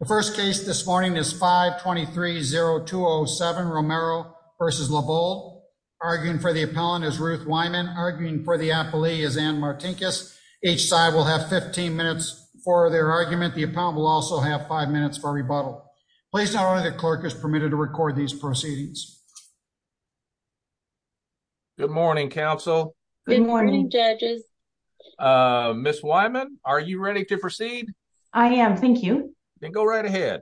The first case this morning is 5-23-0207 Romero v. Levold. Arguing for the appellant is Ruth Wyman. Arguing for the appellee is Ann Martinkus. Each side will have 15 minutes for their argument. The appellant will also have 5 minutes for rebuttal. Please note only the clerk is permitted to record these proceedings. Good morning, counsel. Good morning, judges. Ms. Wyman, are you ready to proceed? I am, thank you. Then go right ahead.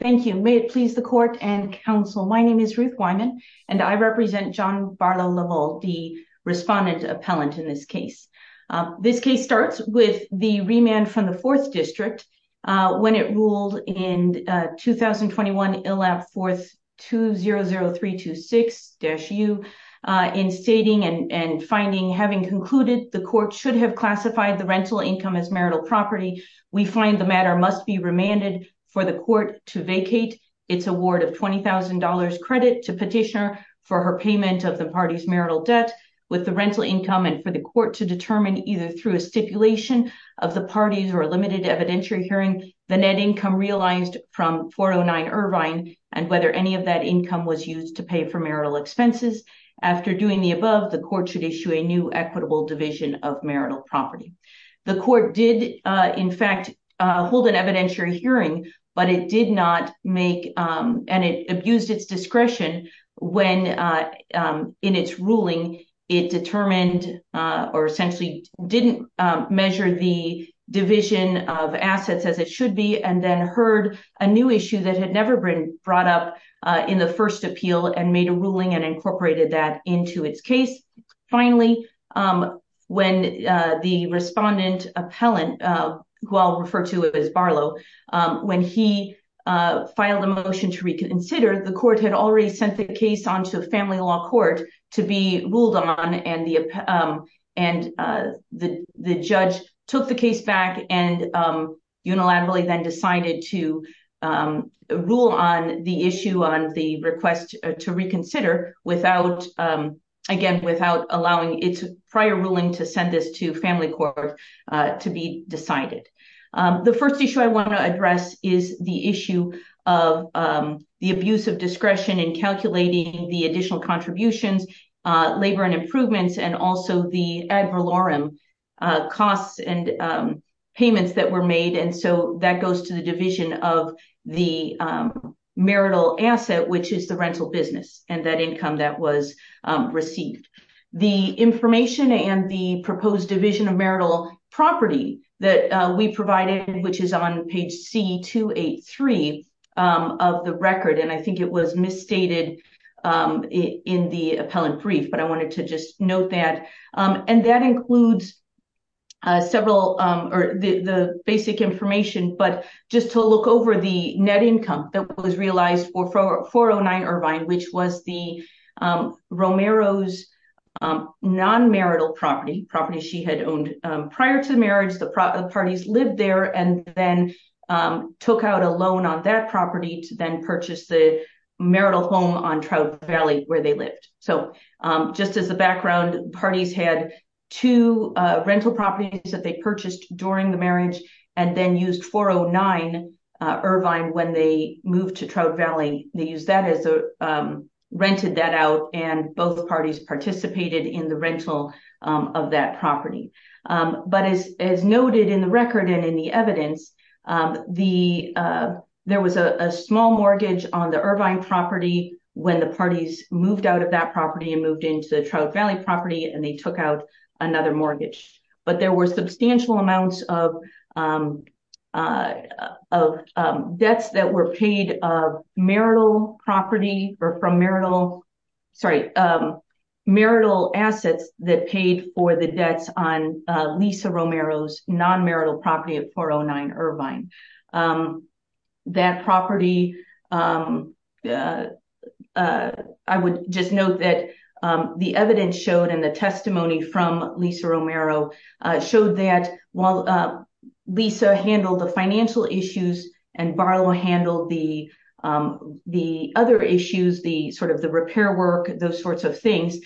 Thank you. May it please the court and counsel, my name is Ruth Wyman and I represent John Barlow Levold, the respondent appellant in this case. This case starts with the remand from the 4th District when it ruled in 2021 ILAP 4200326-U in stating and finding, having concluded the court should have classified the rental income as marital property, we find the matter must be remanded for the court to vacate its award of $20,000 credit to petitioner for her payment of the party's marital debt with the rental income and for the court to determine either through a stipulation of the party's or limited evidentiary hearing the net income realized from 409 Irvine and whether any of that income was used to pay for marital expenses. After doing the above, the court should issue a new equitable division of marital property. The court did in fact hold an evidentiary hearing but it did not make and it abused its discretion when in its ruling it determined or essentially didn't measure the division of assets as it should be and then heard a new issue that had never been brought up in the first appeal and made a ruling and incorporated that into its case. Finally, when the respondent appellant who I'll refer to as Barlow, when he filed a motion to reconsider the court had already sent the case onto a family law court to be ruled on and the judge took the case back and unilaterally then decided to rule on the issue on the request to reconsider without allowing its prior ruling to send this to family court to be decided. The first issue I want to address is the issue of the abuse of discretion in calculating the additional contributions, labor and improvements and also the ad valorem costs and payments that were made and so that goes to the division of the marital asset which is the rental business and that income that was received. The information and the proposed division of marital property that we provided which is on page C-283 of the record and I think it was misstated in the appellant brief but I wanted to just that and that includes several or the basic information but just to look over the net income that was realized for 409 Irvine which was the Romero's non-marital property, property she had owned prior to marriage. The parties lived there and then took out a loan on that property then purchased the marital home on Trout Valley where they lived. So just as the background, parties had two rental properties that they purchased during the marriage and then used 409 Irvine when they moved to Trout Valley. They used that as a rented that out and both parties participated in the rental of that property but as noted in the record and in the evidence, the there was a small mortgage on the Irvine property when the parties moved out of that property and moved into Trout Valley property and they took out another mortgage but there were substantial amounts of debts that were paid of marital property or from marital, sorry, marital assets that paid for the debts on Lisa Romero's non-marital property of 409 Irvine. That property, I would just note that the evidence showed and the testimony from Lisa Romero showed that while Lisa handled the financial issues and Barlow handled the other issues, the sort of the repair work, those sorts of things,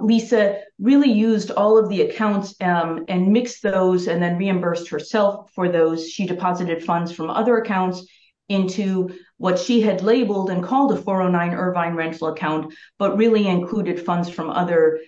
Lisa really used all of the accounts and mixed those and then reimbursed herself for those. She deposited funds from other accounts into what she had labeled and called a 409 Irvine rental account but really included funds from other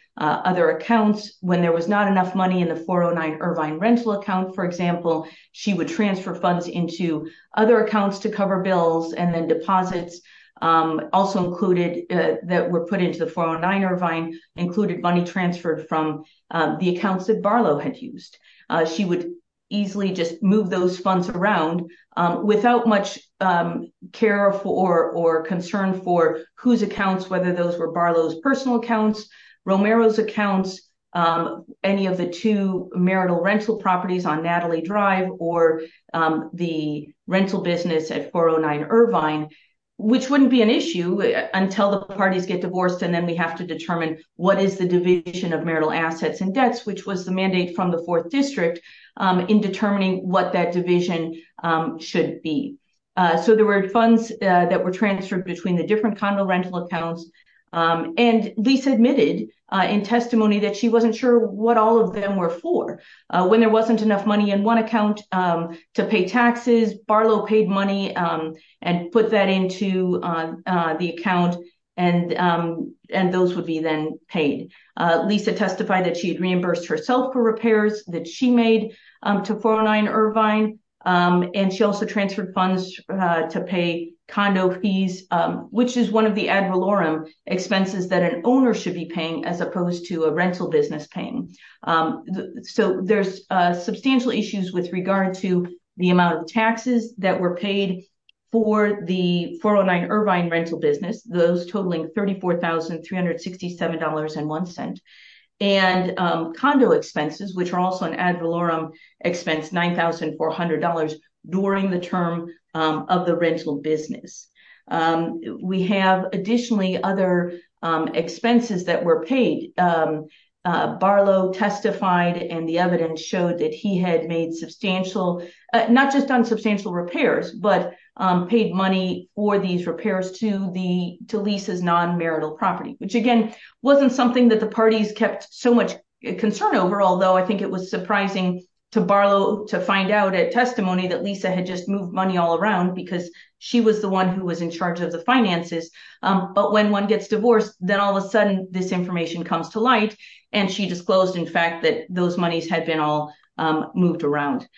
accounts. When there was not enough money in the 409 Irvine rental account, for example, she would transfer funds into other accounts to cover bills and then deposits also included that were put into the 409 Irvine, included money transferred from the accounts that Barlow had used. She would easily just move those funds around without much care for or concern for whose accounts, whether those were Barlow's personal accounts, Romero's accounts, any of the two marital rental properties on Natalie Drive or the rental business at 409 Irvine, which wouldn't be an issue until the parties get divorced and then we have to determine what is the division of marital assets and debts, which was the mandate from the Fourth District in determining what that division should be. So there were funds that were transferred between the different condo rental accounts and Lisa admitted in testimony that she wasn't sure what all of them were for. When there wasn't enough money in one account to pay taxes, Barlow paid money and put that into the account and those would be then paid. Lisa testified that she had reimbursed herself for repairs that she made to 409 Irvine and she also transferred funds to pay condo fees, which is one of the ad valorem expenses that an owner should be paying as opposed to a rental business paying. So there's substantial issues with regard to the amount of taxes that were paid for the 409 Irvine rental business, those totaling $34,367.01 and condo expenses, which are also an ad valorem expense, $9,400 during the term of the rental business. We have additionally other expenses that were paid. Barlow testified and the evidence showed that he had made substantial, not just done substantial repairs, but paid money for these repairs to Lisa's non-marital property, which again wasn't something that the parties kept so much concern over, although I think it was surprising to Barlow to find out at testimony that Lisa had just moved money all around because she was the one who was in charge of the finances. But when one gets divorced, then all of a sudden this information comes to light and she disclosed in fact that those monies had been all moved around.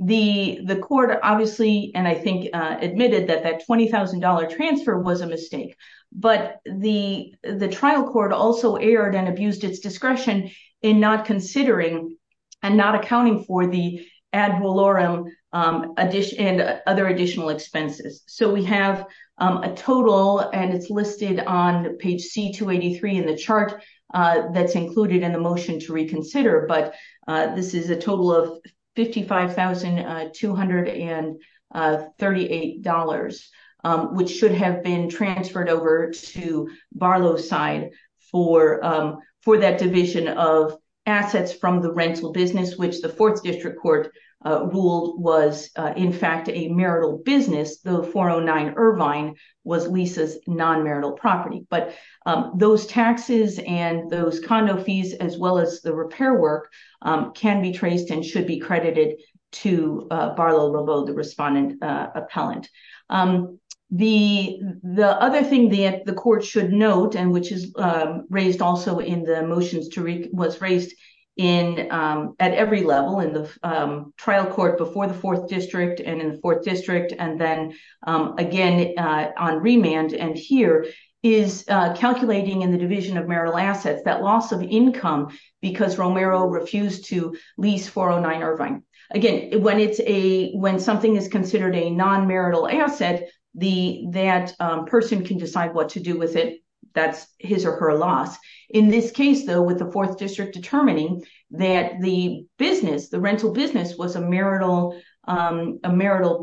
The court obviously and I think admitted that that $20,000 transfer was a mistake, but the trial court also erred and abused its discretion in not considering and not accounting for the ad valorem and other additional expenses. So we have a total and it's listed on page C-283 in the chart that's included in the motion to reconsider, but this is a total of $55,238, which should have been transferred over to Barlow's side for that division of assets from the rental business, which the 4th District Court ruled was in fact a marital business, though 409 Irvine was Lisa's non-marital property. But those taxes and those condo fees as well as the repair work can be traced and should be credited to Barlow-Romeau, the respondent appellant. The other thing that the court should note and which is raised also in the motions was raised at every level in the trial court before the 4th District and in the 4th District and then again on remand and here is calculating in the division of marital assets that loss of income because Romero refused to lease 409 Irvine. Again, when something is considered a non-marital asset, that person can decide what to do with it, that's his or her loss. In this case though, with the 4th District determining that the business, the rental business was a marital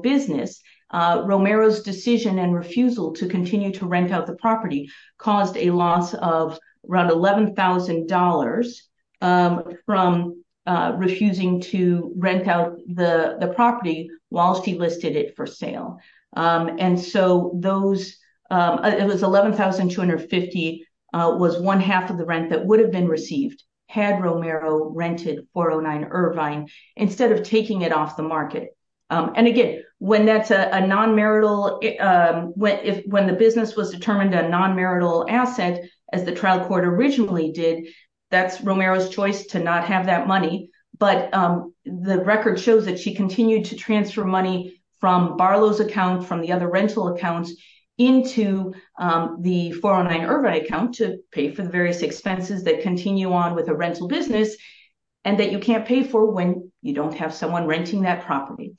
business, Romero's decision and refusal to continue to rent out the property caused a loss of around $11,000 from refusing to rent out the property while she listed it for sale. And so those, it was $11,250 was one half of the rent that would have been received had Romero rented 409 Irvine instead of taking it off the market. And again, when that's a non-marital, when the business was determined a non-marital asset as the trial court originally did, that's Romero's choice to not have that money but the record shows that she continued to transfer money from Barlow's account, from the other rental accounts into the 409 Irvine account to pay for the various expenses that continue on with a rental business and that you can't pay for when you don't have someone renting that property.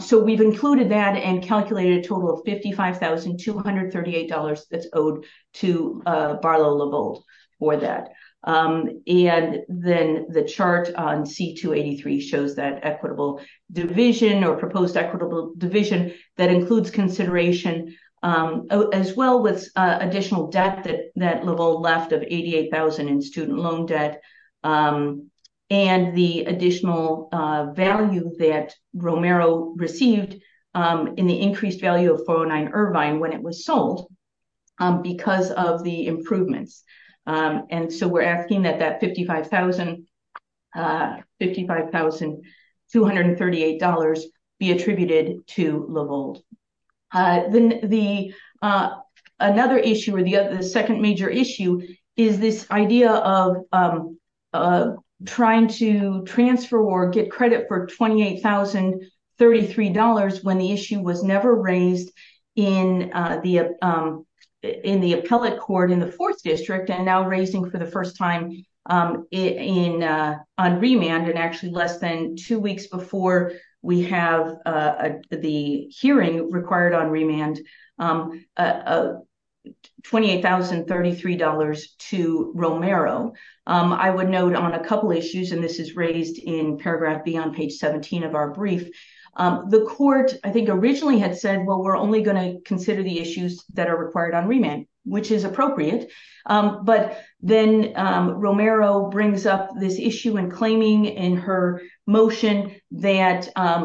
So we've included that and calculated a total of $55,238 that's owed to Barlow-LeVault for that. And then the chart on C-283 shows that equitable division or proposed equitable division that includes consideration as well with additional debt that LeVault left of $88,000 in student loan debt and the additional value that Romero received in the increased value of 409 Irvine when it was sold because of the improvements. And so we're asking that that $55,238 be attributed to LeVault. Then another issue or the second major issue is this idea of trying to transfer or get credit for $28,033 when the issue was never raised in the appellate court in the fourth district and now for the first time on remand and actually less than two weeks before we have the hearing required on remand, $28,033 to Romero. I would note on a couple issues, and this is raised in paragraph B on page 17 of our brief, the court I think originally had said, well, we're only going to Then Romero brings up this issue in claiming in her motion that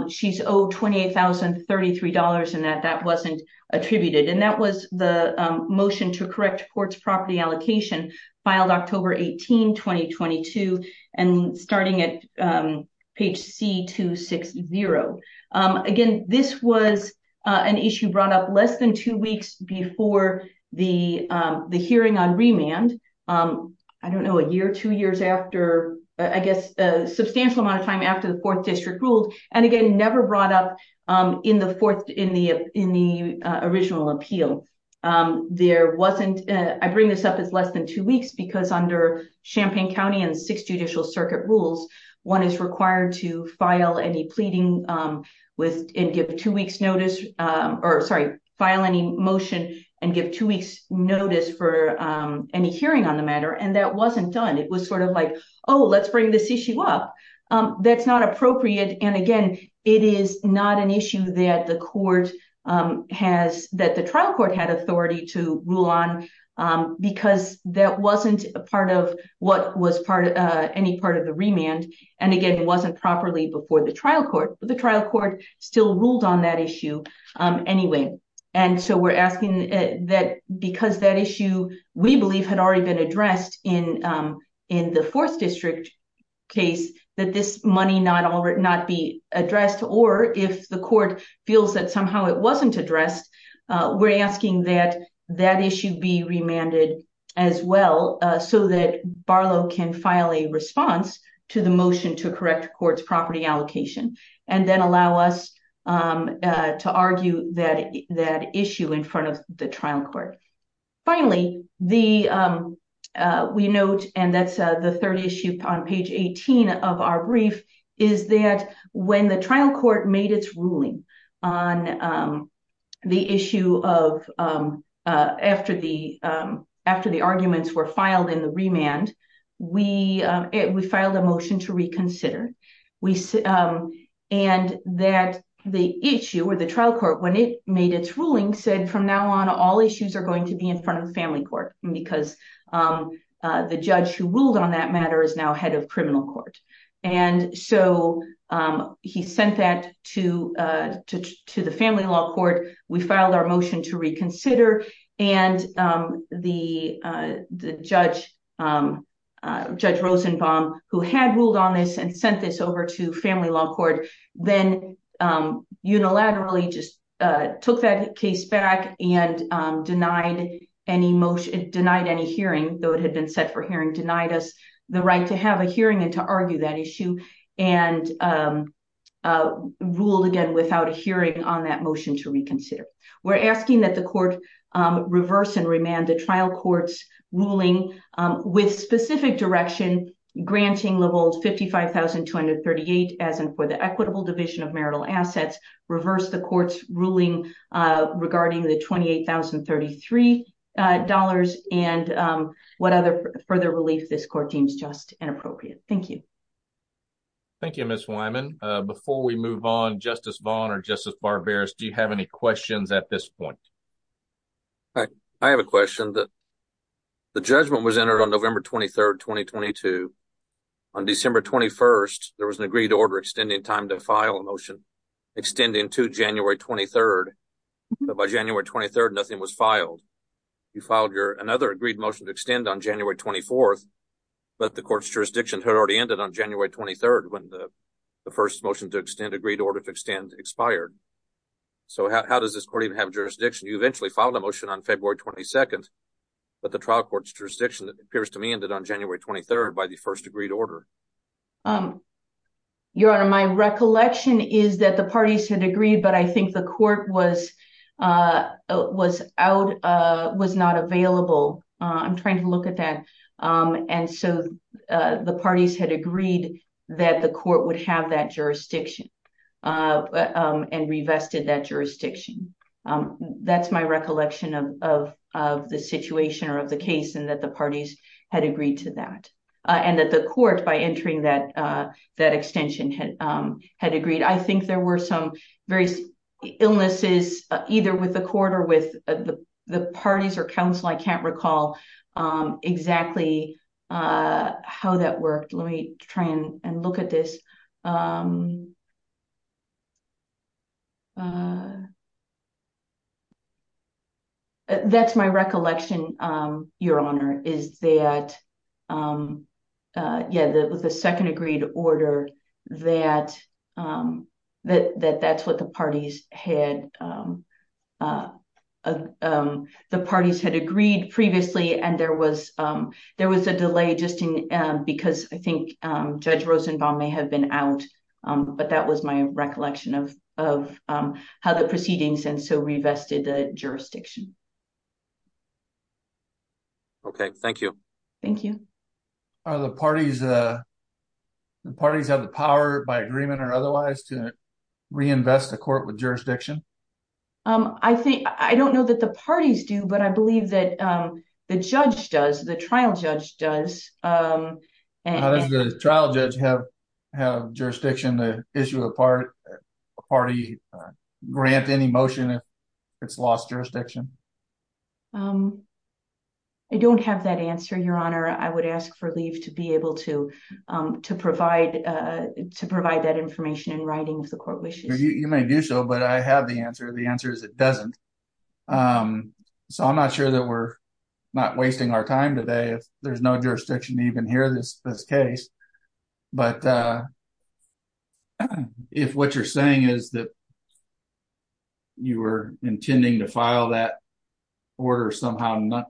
she's owed $28,033 and that that wasn't attributed. And that was the motion to correct courts property allocation filed October 18, 2022 and starting at page C-260. Again, this was an issue brought up less than two weeks before the hearing on remand. I don't know, a year, two years after, I guess a substantial amount of time after the fourth district ruled and again, never brought up in the original appeal. I bring this up as less than two weeks because under Champaign County and six judicial circuit rules, one is required to file any pleading and give two weeks notice or sorry, file any motion and give two weeks notice for any hearing on the matter. And that wasn't done. It was sort of like, oh, let's bring this issue up. That's not appropriate. And again, it is not an issue that the court has, that the trial court had authority to rule on because that wasn't a part of what was part of any part of the remand. And again, it wasn't properly before the trial court, the trial court still ruled on that issue anyway. And so we're asking that because that issue, we believe had already been addressed in the fourth district case that this money not be addressed or if the court feels that somehow it wasn't addressed, we're asking that that issue be remanded as well so that Barlow can file a response to the motion to correct courts property allocation. And then allow us to argue that issue in front of the trial court. Finally, we note, and that's the third issue on page 18 of our brief, is that when the trial court made its ruling on the issue of after the arguments were filed in the remand, we filed a motion to reconsider. And that the issue or the trial court when it made its ruling said from now on all issues are going to be in front of the family court because the judge who ruled on that matter is now head of criminal court. And so he sent that to the family law court. We filed our motion to reconsider and the judge, Judge Rosenbaum, who had ruled on this and sent this over to family law court, then unilaterally just took that case back and denied any motion, denied any hearing, though it had been set for hearing, denied us the right to have a hearing and to argue that issue and ruled again without a hearing on that motion to reconsider. We're asking that the court reverse and remand the trial court's ruling with specific direction granting levels 55,238 as and for the equitable division of marital assets, reverse the court's ruling regarding the $28,033 and what other further relief this court deems just and appropriate. Thank you. Thank you, Ms. Wyman. Before we move on, Justice Vaughn or Justice Barberis, do you have any questions at this point? I have a question that the judgment was entered on November 23rd, 2022. On December 21st, there was an agreed order extending time to file a motion extending to January 23rd. But by January 23rd, nothing was filed. You filed your another agreed motion to extend on January 24th, but the court's jurisdiction had already ended on January 23rd when the first motion to extend agreed order to extend expired. So how does this court even have jurisdiction? You eventually filed a motion on February 22nd, but the trial court's jurisdiction appears to me ended on January 23rd by the first agreed order. Your Honor, my recollection is that parties had agreed, but I think the court was not available. I'm trying to look at that. And so the parties had agreed that the court would have that jurisdiction and revested that jurisdiction. That's my recollection of the situation or of the case and that the parties had agreed to that. And that the court, by entering that extension, had agreed. I think there were some various illnesses either with the court or with the parties or counsel. I can't recall exactly how that worked. Let me try and look at this. That's my recollection, Your Honor, is that, yeah, the second agreed order that's what the parties had agreed previously. And there was a delay just because I think Judge Rosenbaum may have been out. But that was my recollection of how the proceedings and so revested the jurisdiction. Okay, thank you. Thank you. Are the parties, the parties have the power by agreement or otherwise to reinvest the court with jurisdiction? I think, I don't know that the parties do, but I believe the judge does, the trial judge does. How does the trial judge have jurisdiction to issue a party grant any motion if it's lost jurisdiction? I don't have that answer, Your Honor. I would ask for leave to be able to provide that information in writing if the court wishes. You may do so, but I have the answer. The answer is it doesn't. So I'm not sure that we're not wasting our time today if there's no jurisdiction even here in this case. But if what you're saying is that you were intending to file that order somehow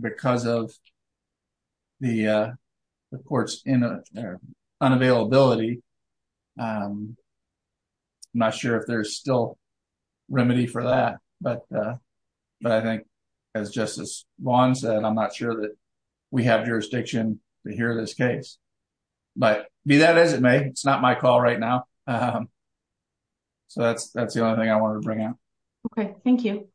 because of the court's unavailability, I'm not sure if there's still remedy for that. But I think as Justice Vaughn said, I'm not sure that we have jurisdiction here in this case. But be that as it may, it's not my call right now. So that's the only thing I wanted to bring up. Okay, thank you.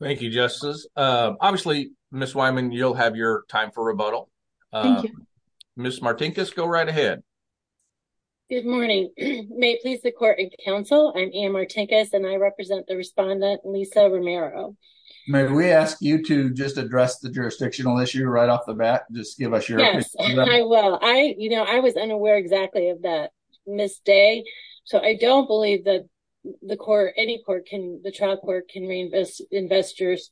Thank you, Justice. Obviously, Ms. Wyman, you'll have your time for rebuttal. Ms. Martinkus, go right ahead. Good morning. May it please the court and counsel, I'm Anne Martinkus, and I represent the respondent, Lisa Romero. May we ask you to just address the jurisdictional issue right off the bat? Just give us your opinion. Yes, I will. I was unaware exactly of that mistake. So I don't believe that the court, any court, the trial court can reinvest jurisdiction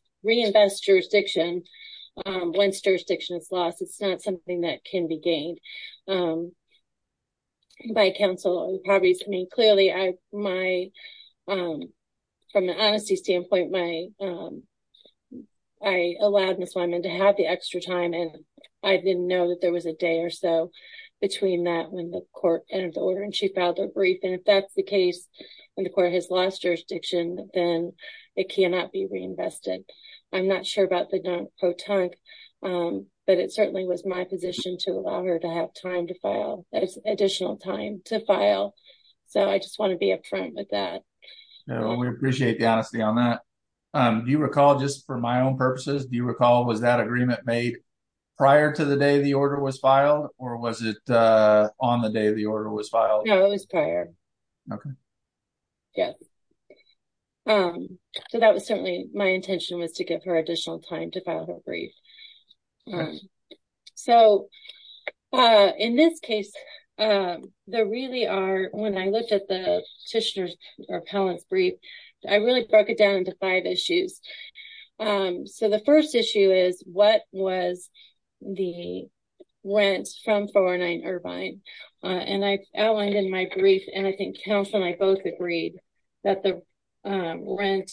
once jurisdiction is lost. It's not something that can be gained by counsel. Clearly, from an honesty standpoint, I allowed Ms. Wyman to have the extra time and I didn't know that there was a day or so between that when the court entered the order and she filed a brief. And if that's the case, when the court has lost jurisdiction, then it cannot be reinvested. I'm not sure about the dunk-o-tunk, but it certainly was my position to allow her to have time to file, additional time to file. So I just want to be upfront with that. No, we appreciate the honesty on that. Do you recall, just for my own purposes, do you recall was that agreement made prior to the day the order was filed, or was it on the day the order was filed? No, it was prior. Okay. Yes. So that was certainly my intention was to give her additional time to file her brief. So in this case, there really are, when I looked at the Tishner's or Pellant's brief, I really broke it down into five issues. So the first issue is what was the, rent from 409 Irvine. And I outlined in my brief, and I think council and I both agreed that the rent,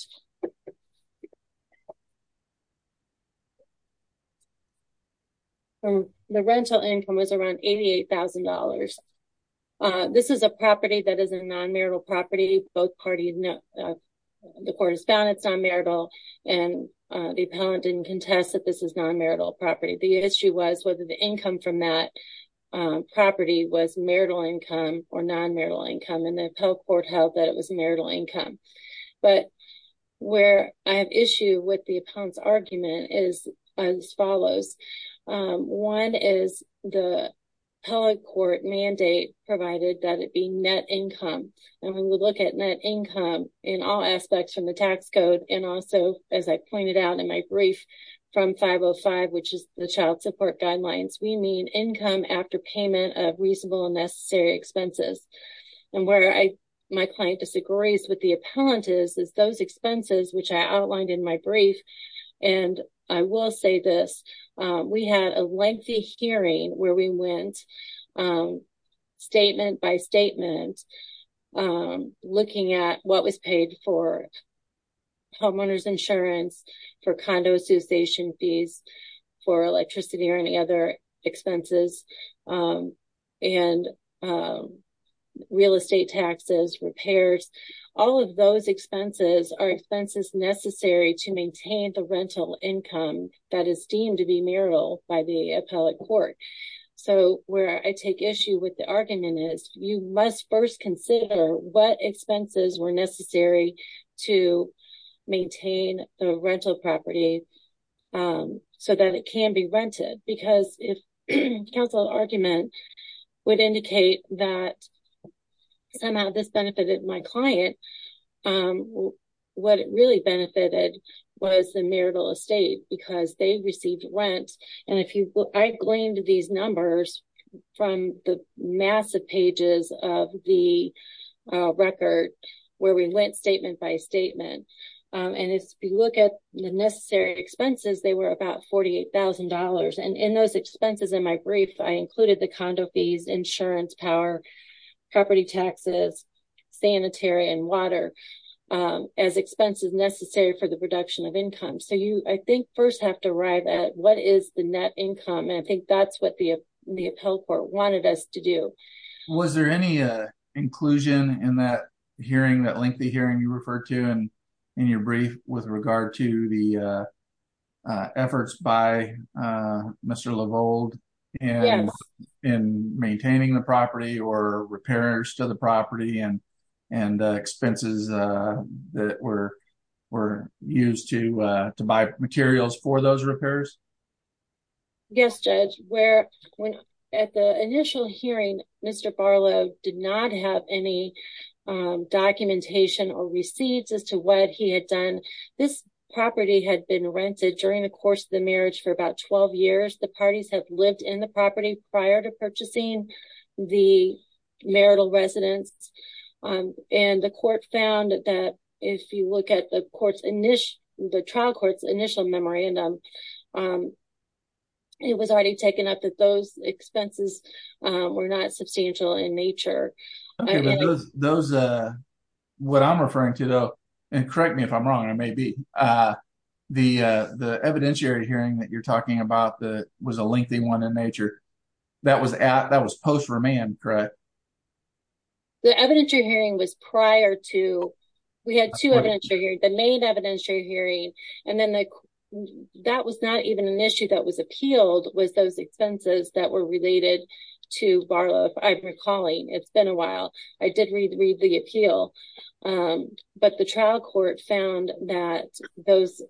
the rental income was around $88,000. This is a property that is a non-marital property. Both parties, the court has found it's non-marital and the appellant didn't contest that this is a non-marital property. So the income from that property was marital income or non-marital income. And the appellate court held that it was marital income. But where I have issue with the appellant's argument is as follows. One is the appellate court mandate provided that it be net income. And we would look at net income in all aspects from the tax code. And also, as I pointed out in my brief from 505, which is the child support guidelines, we mean income after payment of reasonable and necessary expenses. And where my client disagrees with the appellant is those expenses, which I outlined in my brief. And I will say this, we had a lengthy hearing where we went statement by statement looking at what was paid for homeowners insurance, for condo association fees, for electricity or any other expenses, and real estate taxes, repairs. All of those expenses are expenses necessary to maintain the rental income that is deemed to be marital by the appellate court. And so where I have issue with the argument is you must first consider what expenses were necessary to maintain the rental property so that it can be rented. Because if counsel argument would indicate that somehow this benefited my client, what it really benefited was the marital estate because they received rent. And I gleaned these numbers from the massive pages of the record where we went statement by statement. And if you look at the necessary expenses, they were about $48,000. And in those expenses in my brief, I included the condo fees, insurance, power, property taxes, sanitary and water as expenses necessary for the production of income. So you, I think, first have to arrive at what is the net income. And I think that's what the appellate court wanted us to do. Was there any inclusion in that hearing, that lengthy hearing you referred to in your brief with regard to the efforts by Mr. LaVold in maintaining the property or repairs to the property and expenses that were used to buy materials for those repairs? Yes, Judge. At the initial hearing, Mr. Barlow did not have any documentation or receipts as to what he had done. This property had been rented during the course of the marriage for about 12 years. The parties have lived in the property prior to purchasing the marital residence. And the court found that if you look at the trial court's initial memorandum, it was already taken up that those expenses were not substantial in nature. Those, what I'm referring to though, and correct me if I'm wrong, I may be, the evidentiary hearing that you're talking about that was a lengthy one in nature, that was post remand, correct? The evidentiary hearing was prior to, we had two evidentiary hearings, the main evidentiary hearing, and then that was not even an issue that was appealed, was those expenses that were related to Barlow, if I'm recalling. It's been a while. I did read the appeal, but the trial court found that those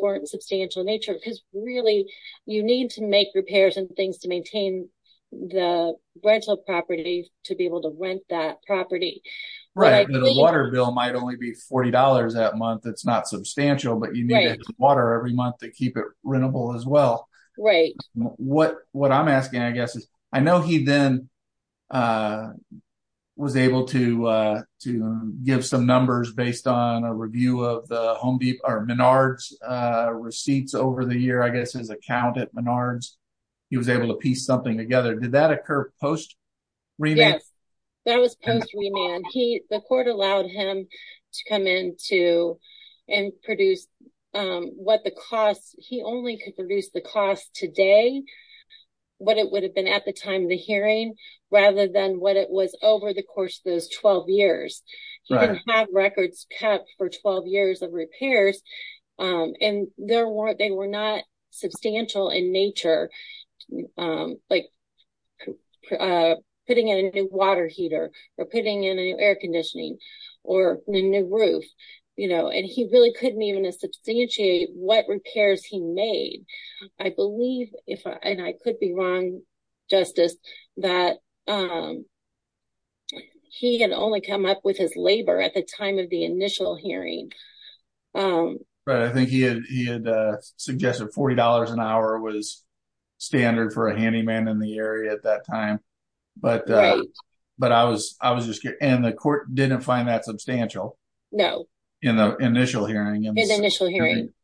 weren't substantial in nature, because really, you need to make repairs and things to maintain the rental property to be able to rent that property. Right, and the water bill might only be $40 that month, that's not substantial, but you need to have water every month to keep it rentable as well. Right. What I'm asking, I know he then was able to give some numbers based on a review of the Home Depot, or Menard's receipts over the year, I guess his account at Menard's, he was able to piece something together, did that occur post remand? Yes, that was post remand. The court allowed him to come in and produce what the costs, he only could produce the cost today, what it would have been at the time of the hearing, rather than what it was over the course of those 12 years. He didn't have records kept for 12 years of repairs, and they were not substantial in nature, like putting in a new water heater, or putting in a new air conditioning, or a new roof, and he really couldn't even substantiate what repairs he made. I believe, and I could be wrong, Justice, that he had only come up with his labor at the time of the initial hearing. I think he had suggested $40 an hour was standard for a handyman in the area at that time, but I was just curious, and the court didn't find that substantial? No. In the initial hearing,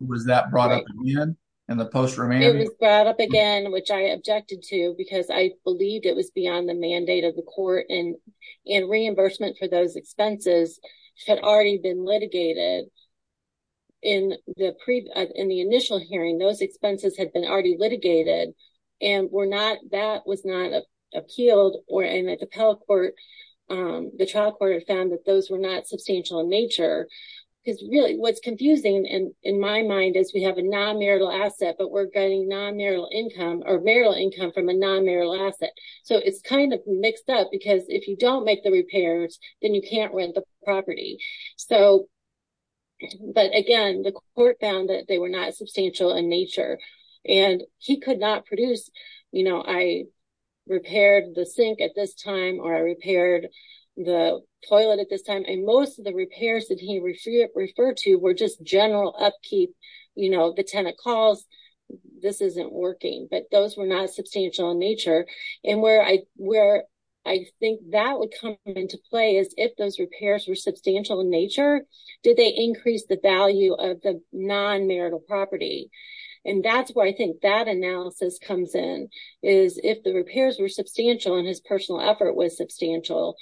was that brought up again? It was brought up again, which I objected to, because I believed it was beyond the mandate of the court, and reimbursement for those expenses had already been litigated in the initial hearing, those expenses had been already litigated, and that was not appealed, and the trial court had found that those were not substantial in nature, because really, what's confusing in my mind is we have a non-marital asset, but we're getting non-marital income, or marital income from a non-marital asset, so it's kind of mixed up, because if you don't make the repairs, then you can't rent the property, but again, the court found that they were not substantial in nature, and he could not produce, you know, I repaired the sink at this time, or I repaired the toilet at this time, and most of the repairs that he referred to were just general upkeep, you know, the tenant calls, this isn't working, but those were not substantial in nature, and where I think that would come into play is if those repairs were non-marital property, and that's where I think that analysis comes in, is if the repairs were substantial, and his personal effort was substantial,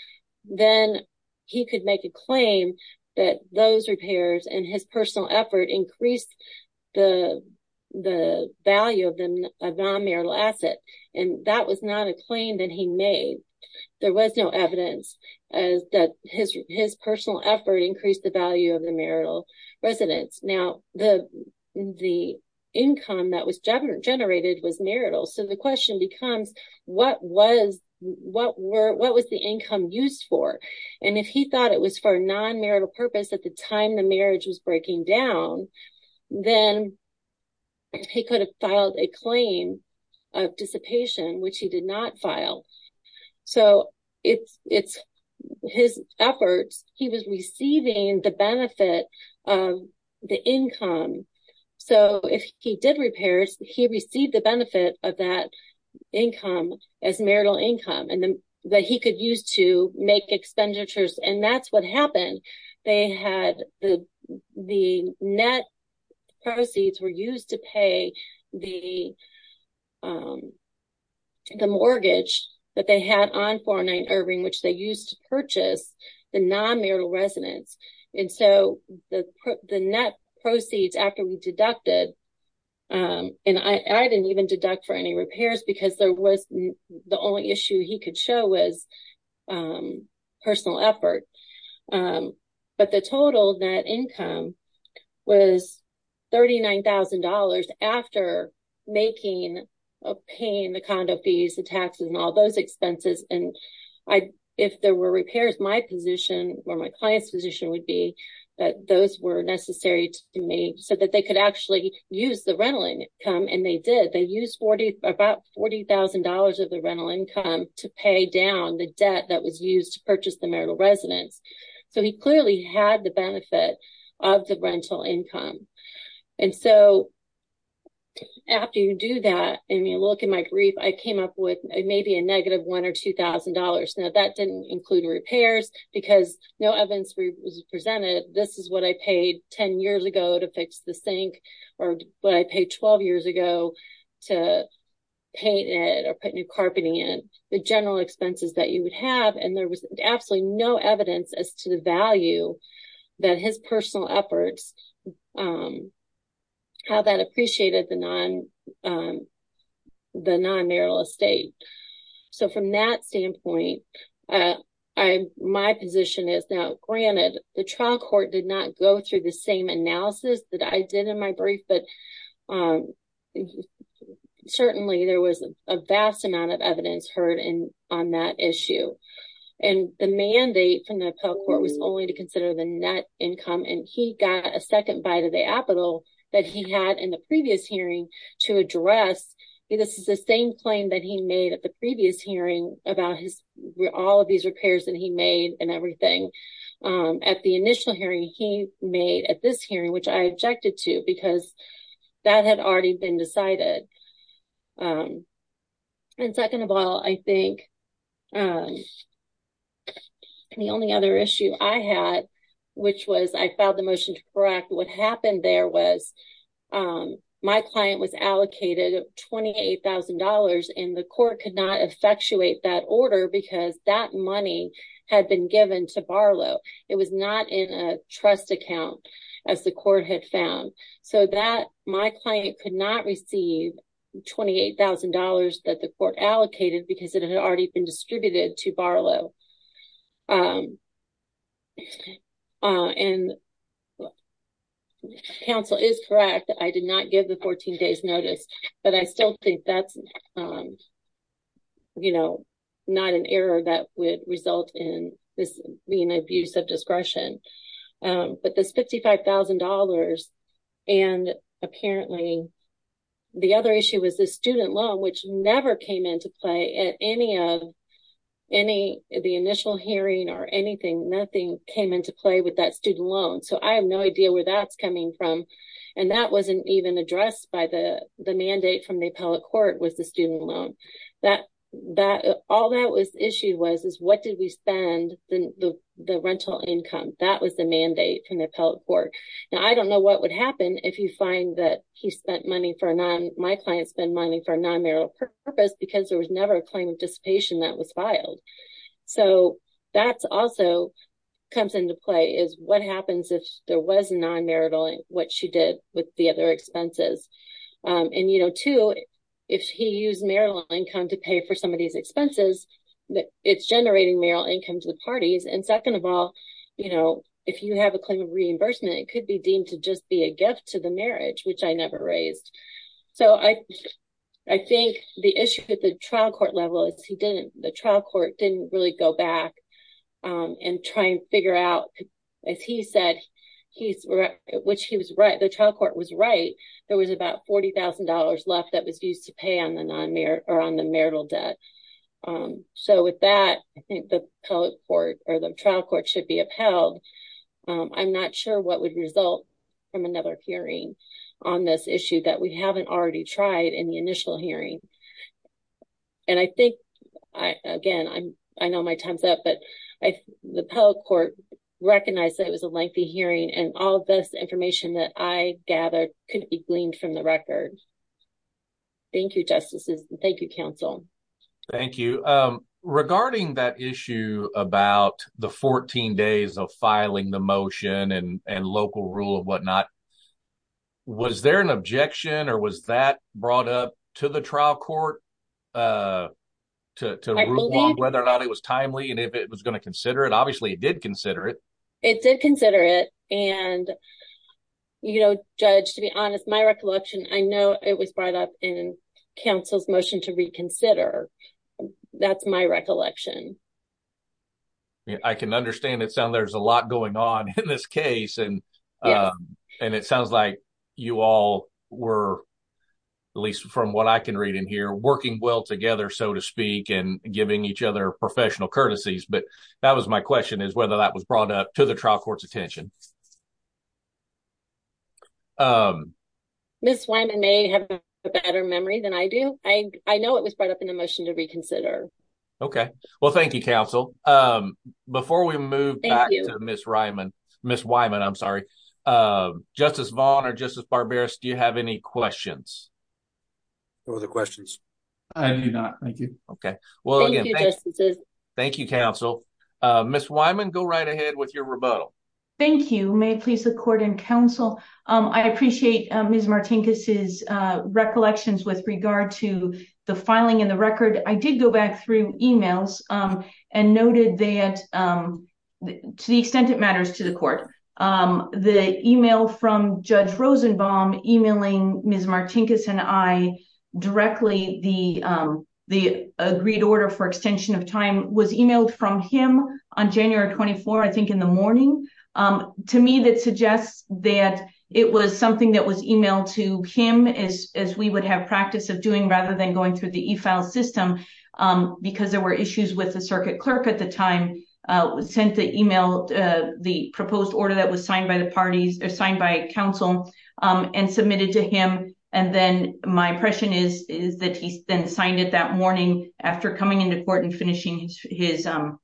then he could make a claim that those repairs and his personal effort increased the value of the non-marital asset, and that was not a claim that he made, there was no evidence that his personal effort increased the value of the marital residence. Now, the income that was generated was marital, so the question becomes, what was the income used for, and if he thought it was for a non-marital purpose at the time the marriage was breaking down, then he could have filed a claim of dissipation, which he the income, so if he did repairs, he received the benefit of that income as marital income, and then that he could use to make expenditures, and that's what happened, they had the net proceeds were used to pay the mortgage that they had on 409 Irving, which they used to purchase the non-marital residence, and so the net proceeds after we deducted, and I didn't even deduct for any repairs because there was the only issue he could show was personal effort, but the total net income was $39,000 after making, paying the condo fees, the taxes, and all those expenses, and if there were repairs, my position or my client's position would be that those were necessary to me so that they could actually use the rental income, and they did, they used 40, about $40,000 of the rental income to pay down the debt that was used to purchase the marital residence, so he clearly had the benefit of the rental income, and so after you do that, and you look in my brief, I came up with maybe a negative $1,000 or $2,000, now that didn't include repairs because no evidence was presented, this is what I paid 10 years ago to fix the sink, or what I paid 12 years ago to paint it or put new carpeting in, the general expenses that you would have, and there was absolutely no evidence as to the value that his personal efforts, how that appreciated the non, the non-marital estate, so from that standpoint, I, my position is, now granted, the trial court did not go through the same analysis that I did in my brief, but certainly there was a vast amount of evidence heard in, on that issue, and the mandate from the appellate court was only to consider the net income, and he got a second bite of the apple that he had in the previous hearing to address, this is the same claim that he made at the previous hearing about his, all of these repairs that he made and everything, at the initial hearing he made at this hearing, which I objected to because that had already been decided, and second of all, I think, the only other issue I had, which was, I filed the motion to correct, what happened there was, my client was allocated $28,000 and the court could not effectuate that order because that my client could not receive $28,000 that the court allocated because it had already been distributed to Barlow, and counsel is correct, I did not give the 14 days notice, but I still think that's, you know, not an error that would result in this being an abuse of discretion, but this $55,000, and apparently, the other issue was the student loan, which never came into play at any of, any, the initial hearing or anything, nothing came into play with that student loan, so I have no idea where that's coming from, and that wasn't even addressed by the mandate from the appellate court was the student loan, that, that, all that was issued was, is what did we income, that was the mandate from the appellate court, and I don't know what would happen if you find that he spent money for a non, my client spent money for a non-marital purpose because there was never a claim of dissipation that was filed, so that's also comes into play, is what happens if there was a non-marital, and what she did with the other expenses, and, you know, too, if he used marital income to pay for some of these expenses, it's generating marital income to the parties, and second of all, you know, if you have a claim of reimbursement, it could be deemed to just be a gift to the marriage, which I never raised, so I, I think the issue with the trial court level is he didn't, the trial court didn't really go back and try and figure out, as he said, he's, which he was right, the trial court was right, there was about $40,000 left that was used to pay on the non-marital, or on the marital debt, so with that, I think the appellate court, or the trial court should be upheld, I'm not sure what would result from another hearing on this issue that we haven't already tried in the initial hearing, and I think, I, again, I'm, I know my time's up, but I, the appellate court recognized that it was a lengthy hearing, and all of this information that I gathered couldn't be gleaned from the record. Thank you, Justices, and thank you, Thank you. Regarding that issue about the 14 days of filing the motion, and, and local rule of whatnot, was there an objection, or was that brought up to the trial court, to, to rule on whether or not it was timely, and if it was going to consider it? Obviously, it did consider it. It did consider it, and, you know, Judge, to be honest, my recollection, I know it was brought up in counsel's motion to reconsider. That's my recollection. Yeah, I can understand it, so there's a lot going on in this case, and, and it sounds like you all were, at least from what I can read in here, working well together, so to speak, and giving each other professional courtesies, but that was my question, is whether that was brought up to the trial court's attention. Um, Ms. Wyman may have a better memory than I do. I, I know it was brought up in the motion to reconsider. Okay, well, thank you, counsel. Um, before we move back to Ms. Wyman, Ms. Wyman, I'm sorry, um, Justice Vaughn or Justice Barberis, do you have any questions? No other questions. I do not, thank you. Okay, well, again, thank you, counsel. Ms. Wyman, go right ahead with your rebuttal. Thank you. May it please the court and counsel, um, I appreciate Ms. Martinkus' recollections with regard to the filing in the record. I did go back through emails, um, and noted that, um, to the extent it matters to the court, um, the email from Judge Rosenbaum emailing Ms. Martinkus and I directly the, um, the agreed order for extension of time was emailed from him on January 24, I think in the morning, um, to me that suggests that it was something that was emailed to him as, as we would have practice of doing rather than going through the e-file system, um, because there were issues with the circuit clerk at the time, uh, sent the email, uh, the proposed order that was signed by the parties or signed by counsel, um, and submitted to him. And then my impression is, is that he then signed it that morning after coming into court and finishing his, um,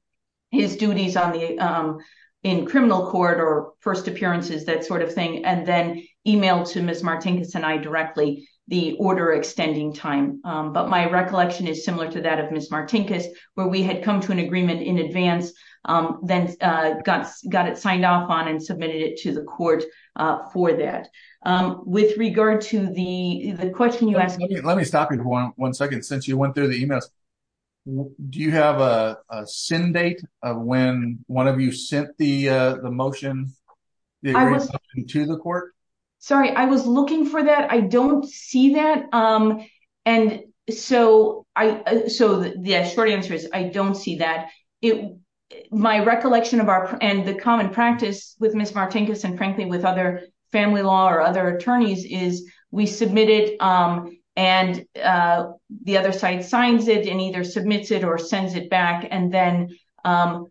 his duties on the, um, in criminal court or first appearances, that sort of thing, and then emailed to Ms. Martinkus and I directly the order extending time. Um, but my recollection is similar to that of Ms. Martinkus, where we had come to an agreement in advance, um, then, uh, got, got it signed off on and submitted it to the court, uh, for that. Um, with regard to the, the question you asked me- Do you have a, a send date of when one of you sent the, uh, the motion to the court? Sorry, I was looking for that. I don't see that. Um, and so I, so the short answer is I don't see that. It, my recollection of our, and the common practice with Ms. Martinkus and frankly with other attorneys is we submit it, um, and, uh, the other side signs it and either submits it or sends it back. And then, um,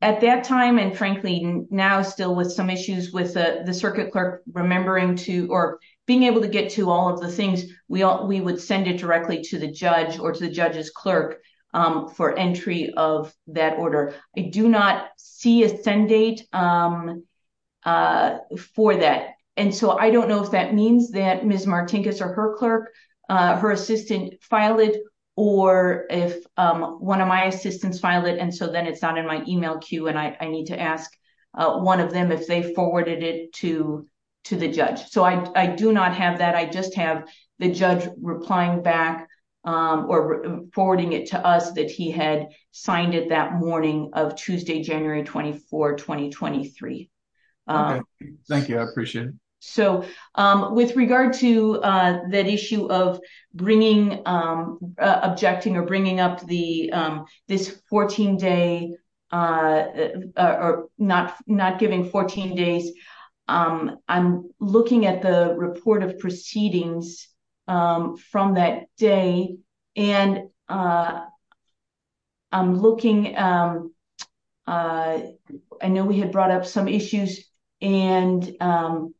at that time, and frankly now still with some issues with, uh, the circuit clerk remembering to, or being able to get to all of the things, we all, we would send it directly to the judge or to the judge's clerk, um, for entry of that order. I do not see a send date, um, uh, for that. And so I don't know if that means that Ms. Martinkus or her clerk, uh, her assistant filed it or if, um, one of my assistants filed it. And so then it's not in my email queue and I, I need to ask, uh, one of them if they forwarded it to, to the judge. So I, I do not have that. I just have the judge replying back, um, or forwarding it to us that he had signed it that morning of Tuesday, January 24th, 2023. Um, thank you. I appreciate it. So, um, with regard to, uh, that issue of bringing, um, uh, objecting or bringing up the, um, this 14 day, uh, uh, or not, not giving 14 days, um, I'm looking at the report of proceedings, um, from that day and, uh, I'm looking, um, uh, I know we had brought up some issues and, um,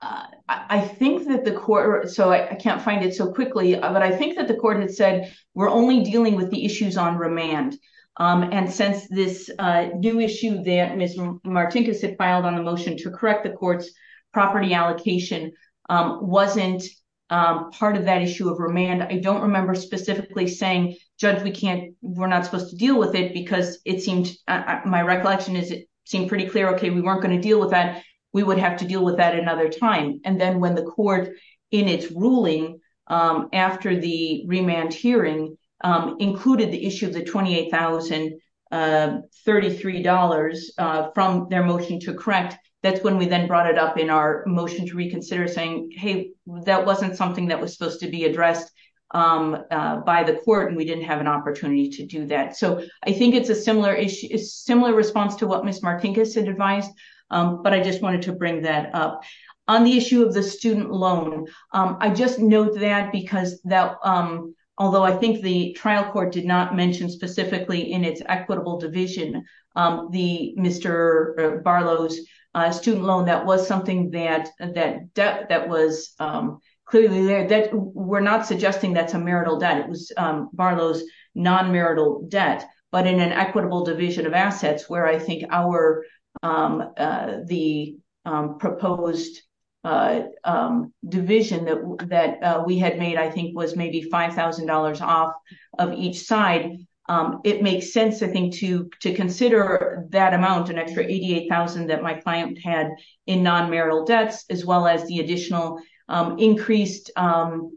uh, I think that the court, so I can't find it so quickly, but I think that the court had said we're only dealing with the issues on remand. Um, and since this, uh, new issue that Ms. Martinkus had filed on the motion to correct the court's property allocation, um, wasn't, um, part of that issue of remand, I don't remember specifically saying, judge, we can't, we're not supposed to deal with it because it seemed, my recollection is it seemed pretty clear. Okay. We weren't going to deal with that. We would have to deal with that another time. And then when the court in its ruling, um, after the remand hearing, um, included the issue of the $28,033, uh, from their motion to correct, that's when we then brought it up in our motion to reconsider saying, hey, that wasn't something that was supposed to be addressed, um, uh, by the court and we didn't have an opportunity to do that. So I think it's a similar issue, similar response to what Ms. Martinkus had advised. Um, but I just wanted to bring that up on the issue of the student loan. Um, I just note that because that, um, although I think the trial court did not mention specifically in its equitable division, um, the Mr. Barlow's, uh, student loan, that was something that, that debt that was, um, clearly there that we're not suggesting that's a marital debt. It was, um, Barlow's non-marital debt, but in an equitable division of assets where I think our, um, uh, the, um, proposed, uh, um, division that, that, uh, we had made, I think was maybe $5,000 off of each side. Um, it makes sense, I think, to, to consider that amount, an extra $88,000 that my client had in non-marital debts, as well as the additional, um, increased, um,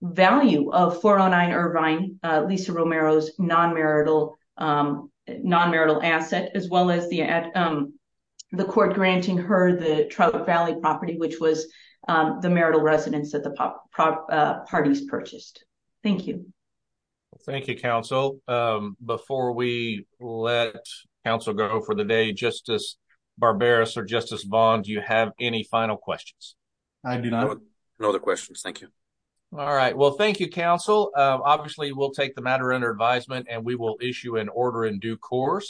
value of 409 Irvine, uh, Lisa Romero's non-marital, um, non-marital asset, as well as the, um, the court granting her the Trout Valley property, which was, um, the marital residence that the parties purchased. Thank you. Well, thank you, counsel. Um, before we let counsel go for the day, Justice Barbaros or Justice Vaughn, do you have any final questions? I do not. No other questions. Thank you. All right. Well, thank you, counsel. Um, obviously, we'll take the matter under advisement and we will issue an order in due course.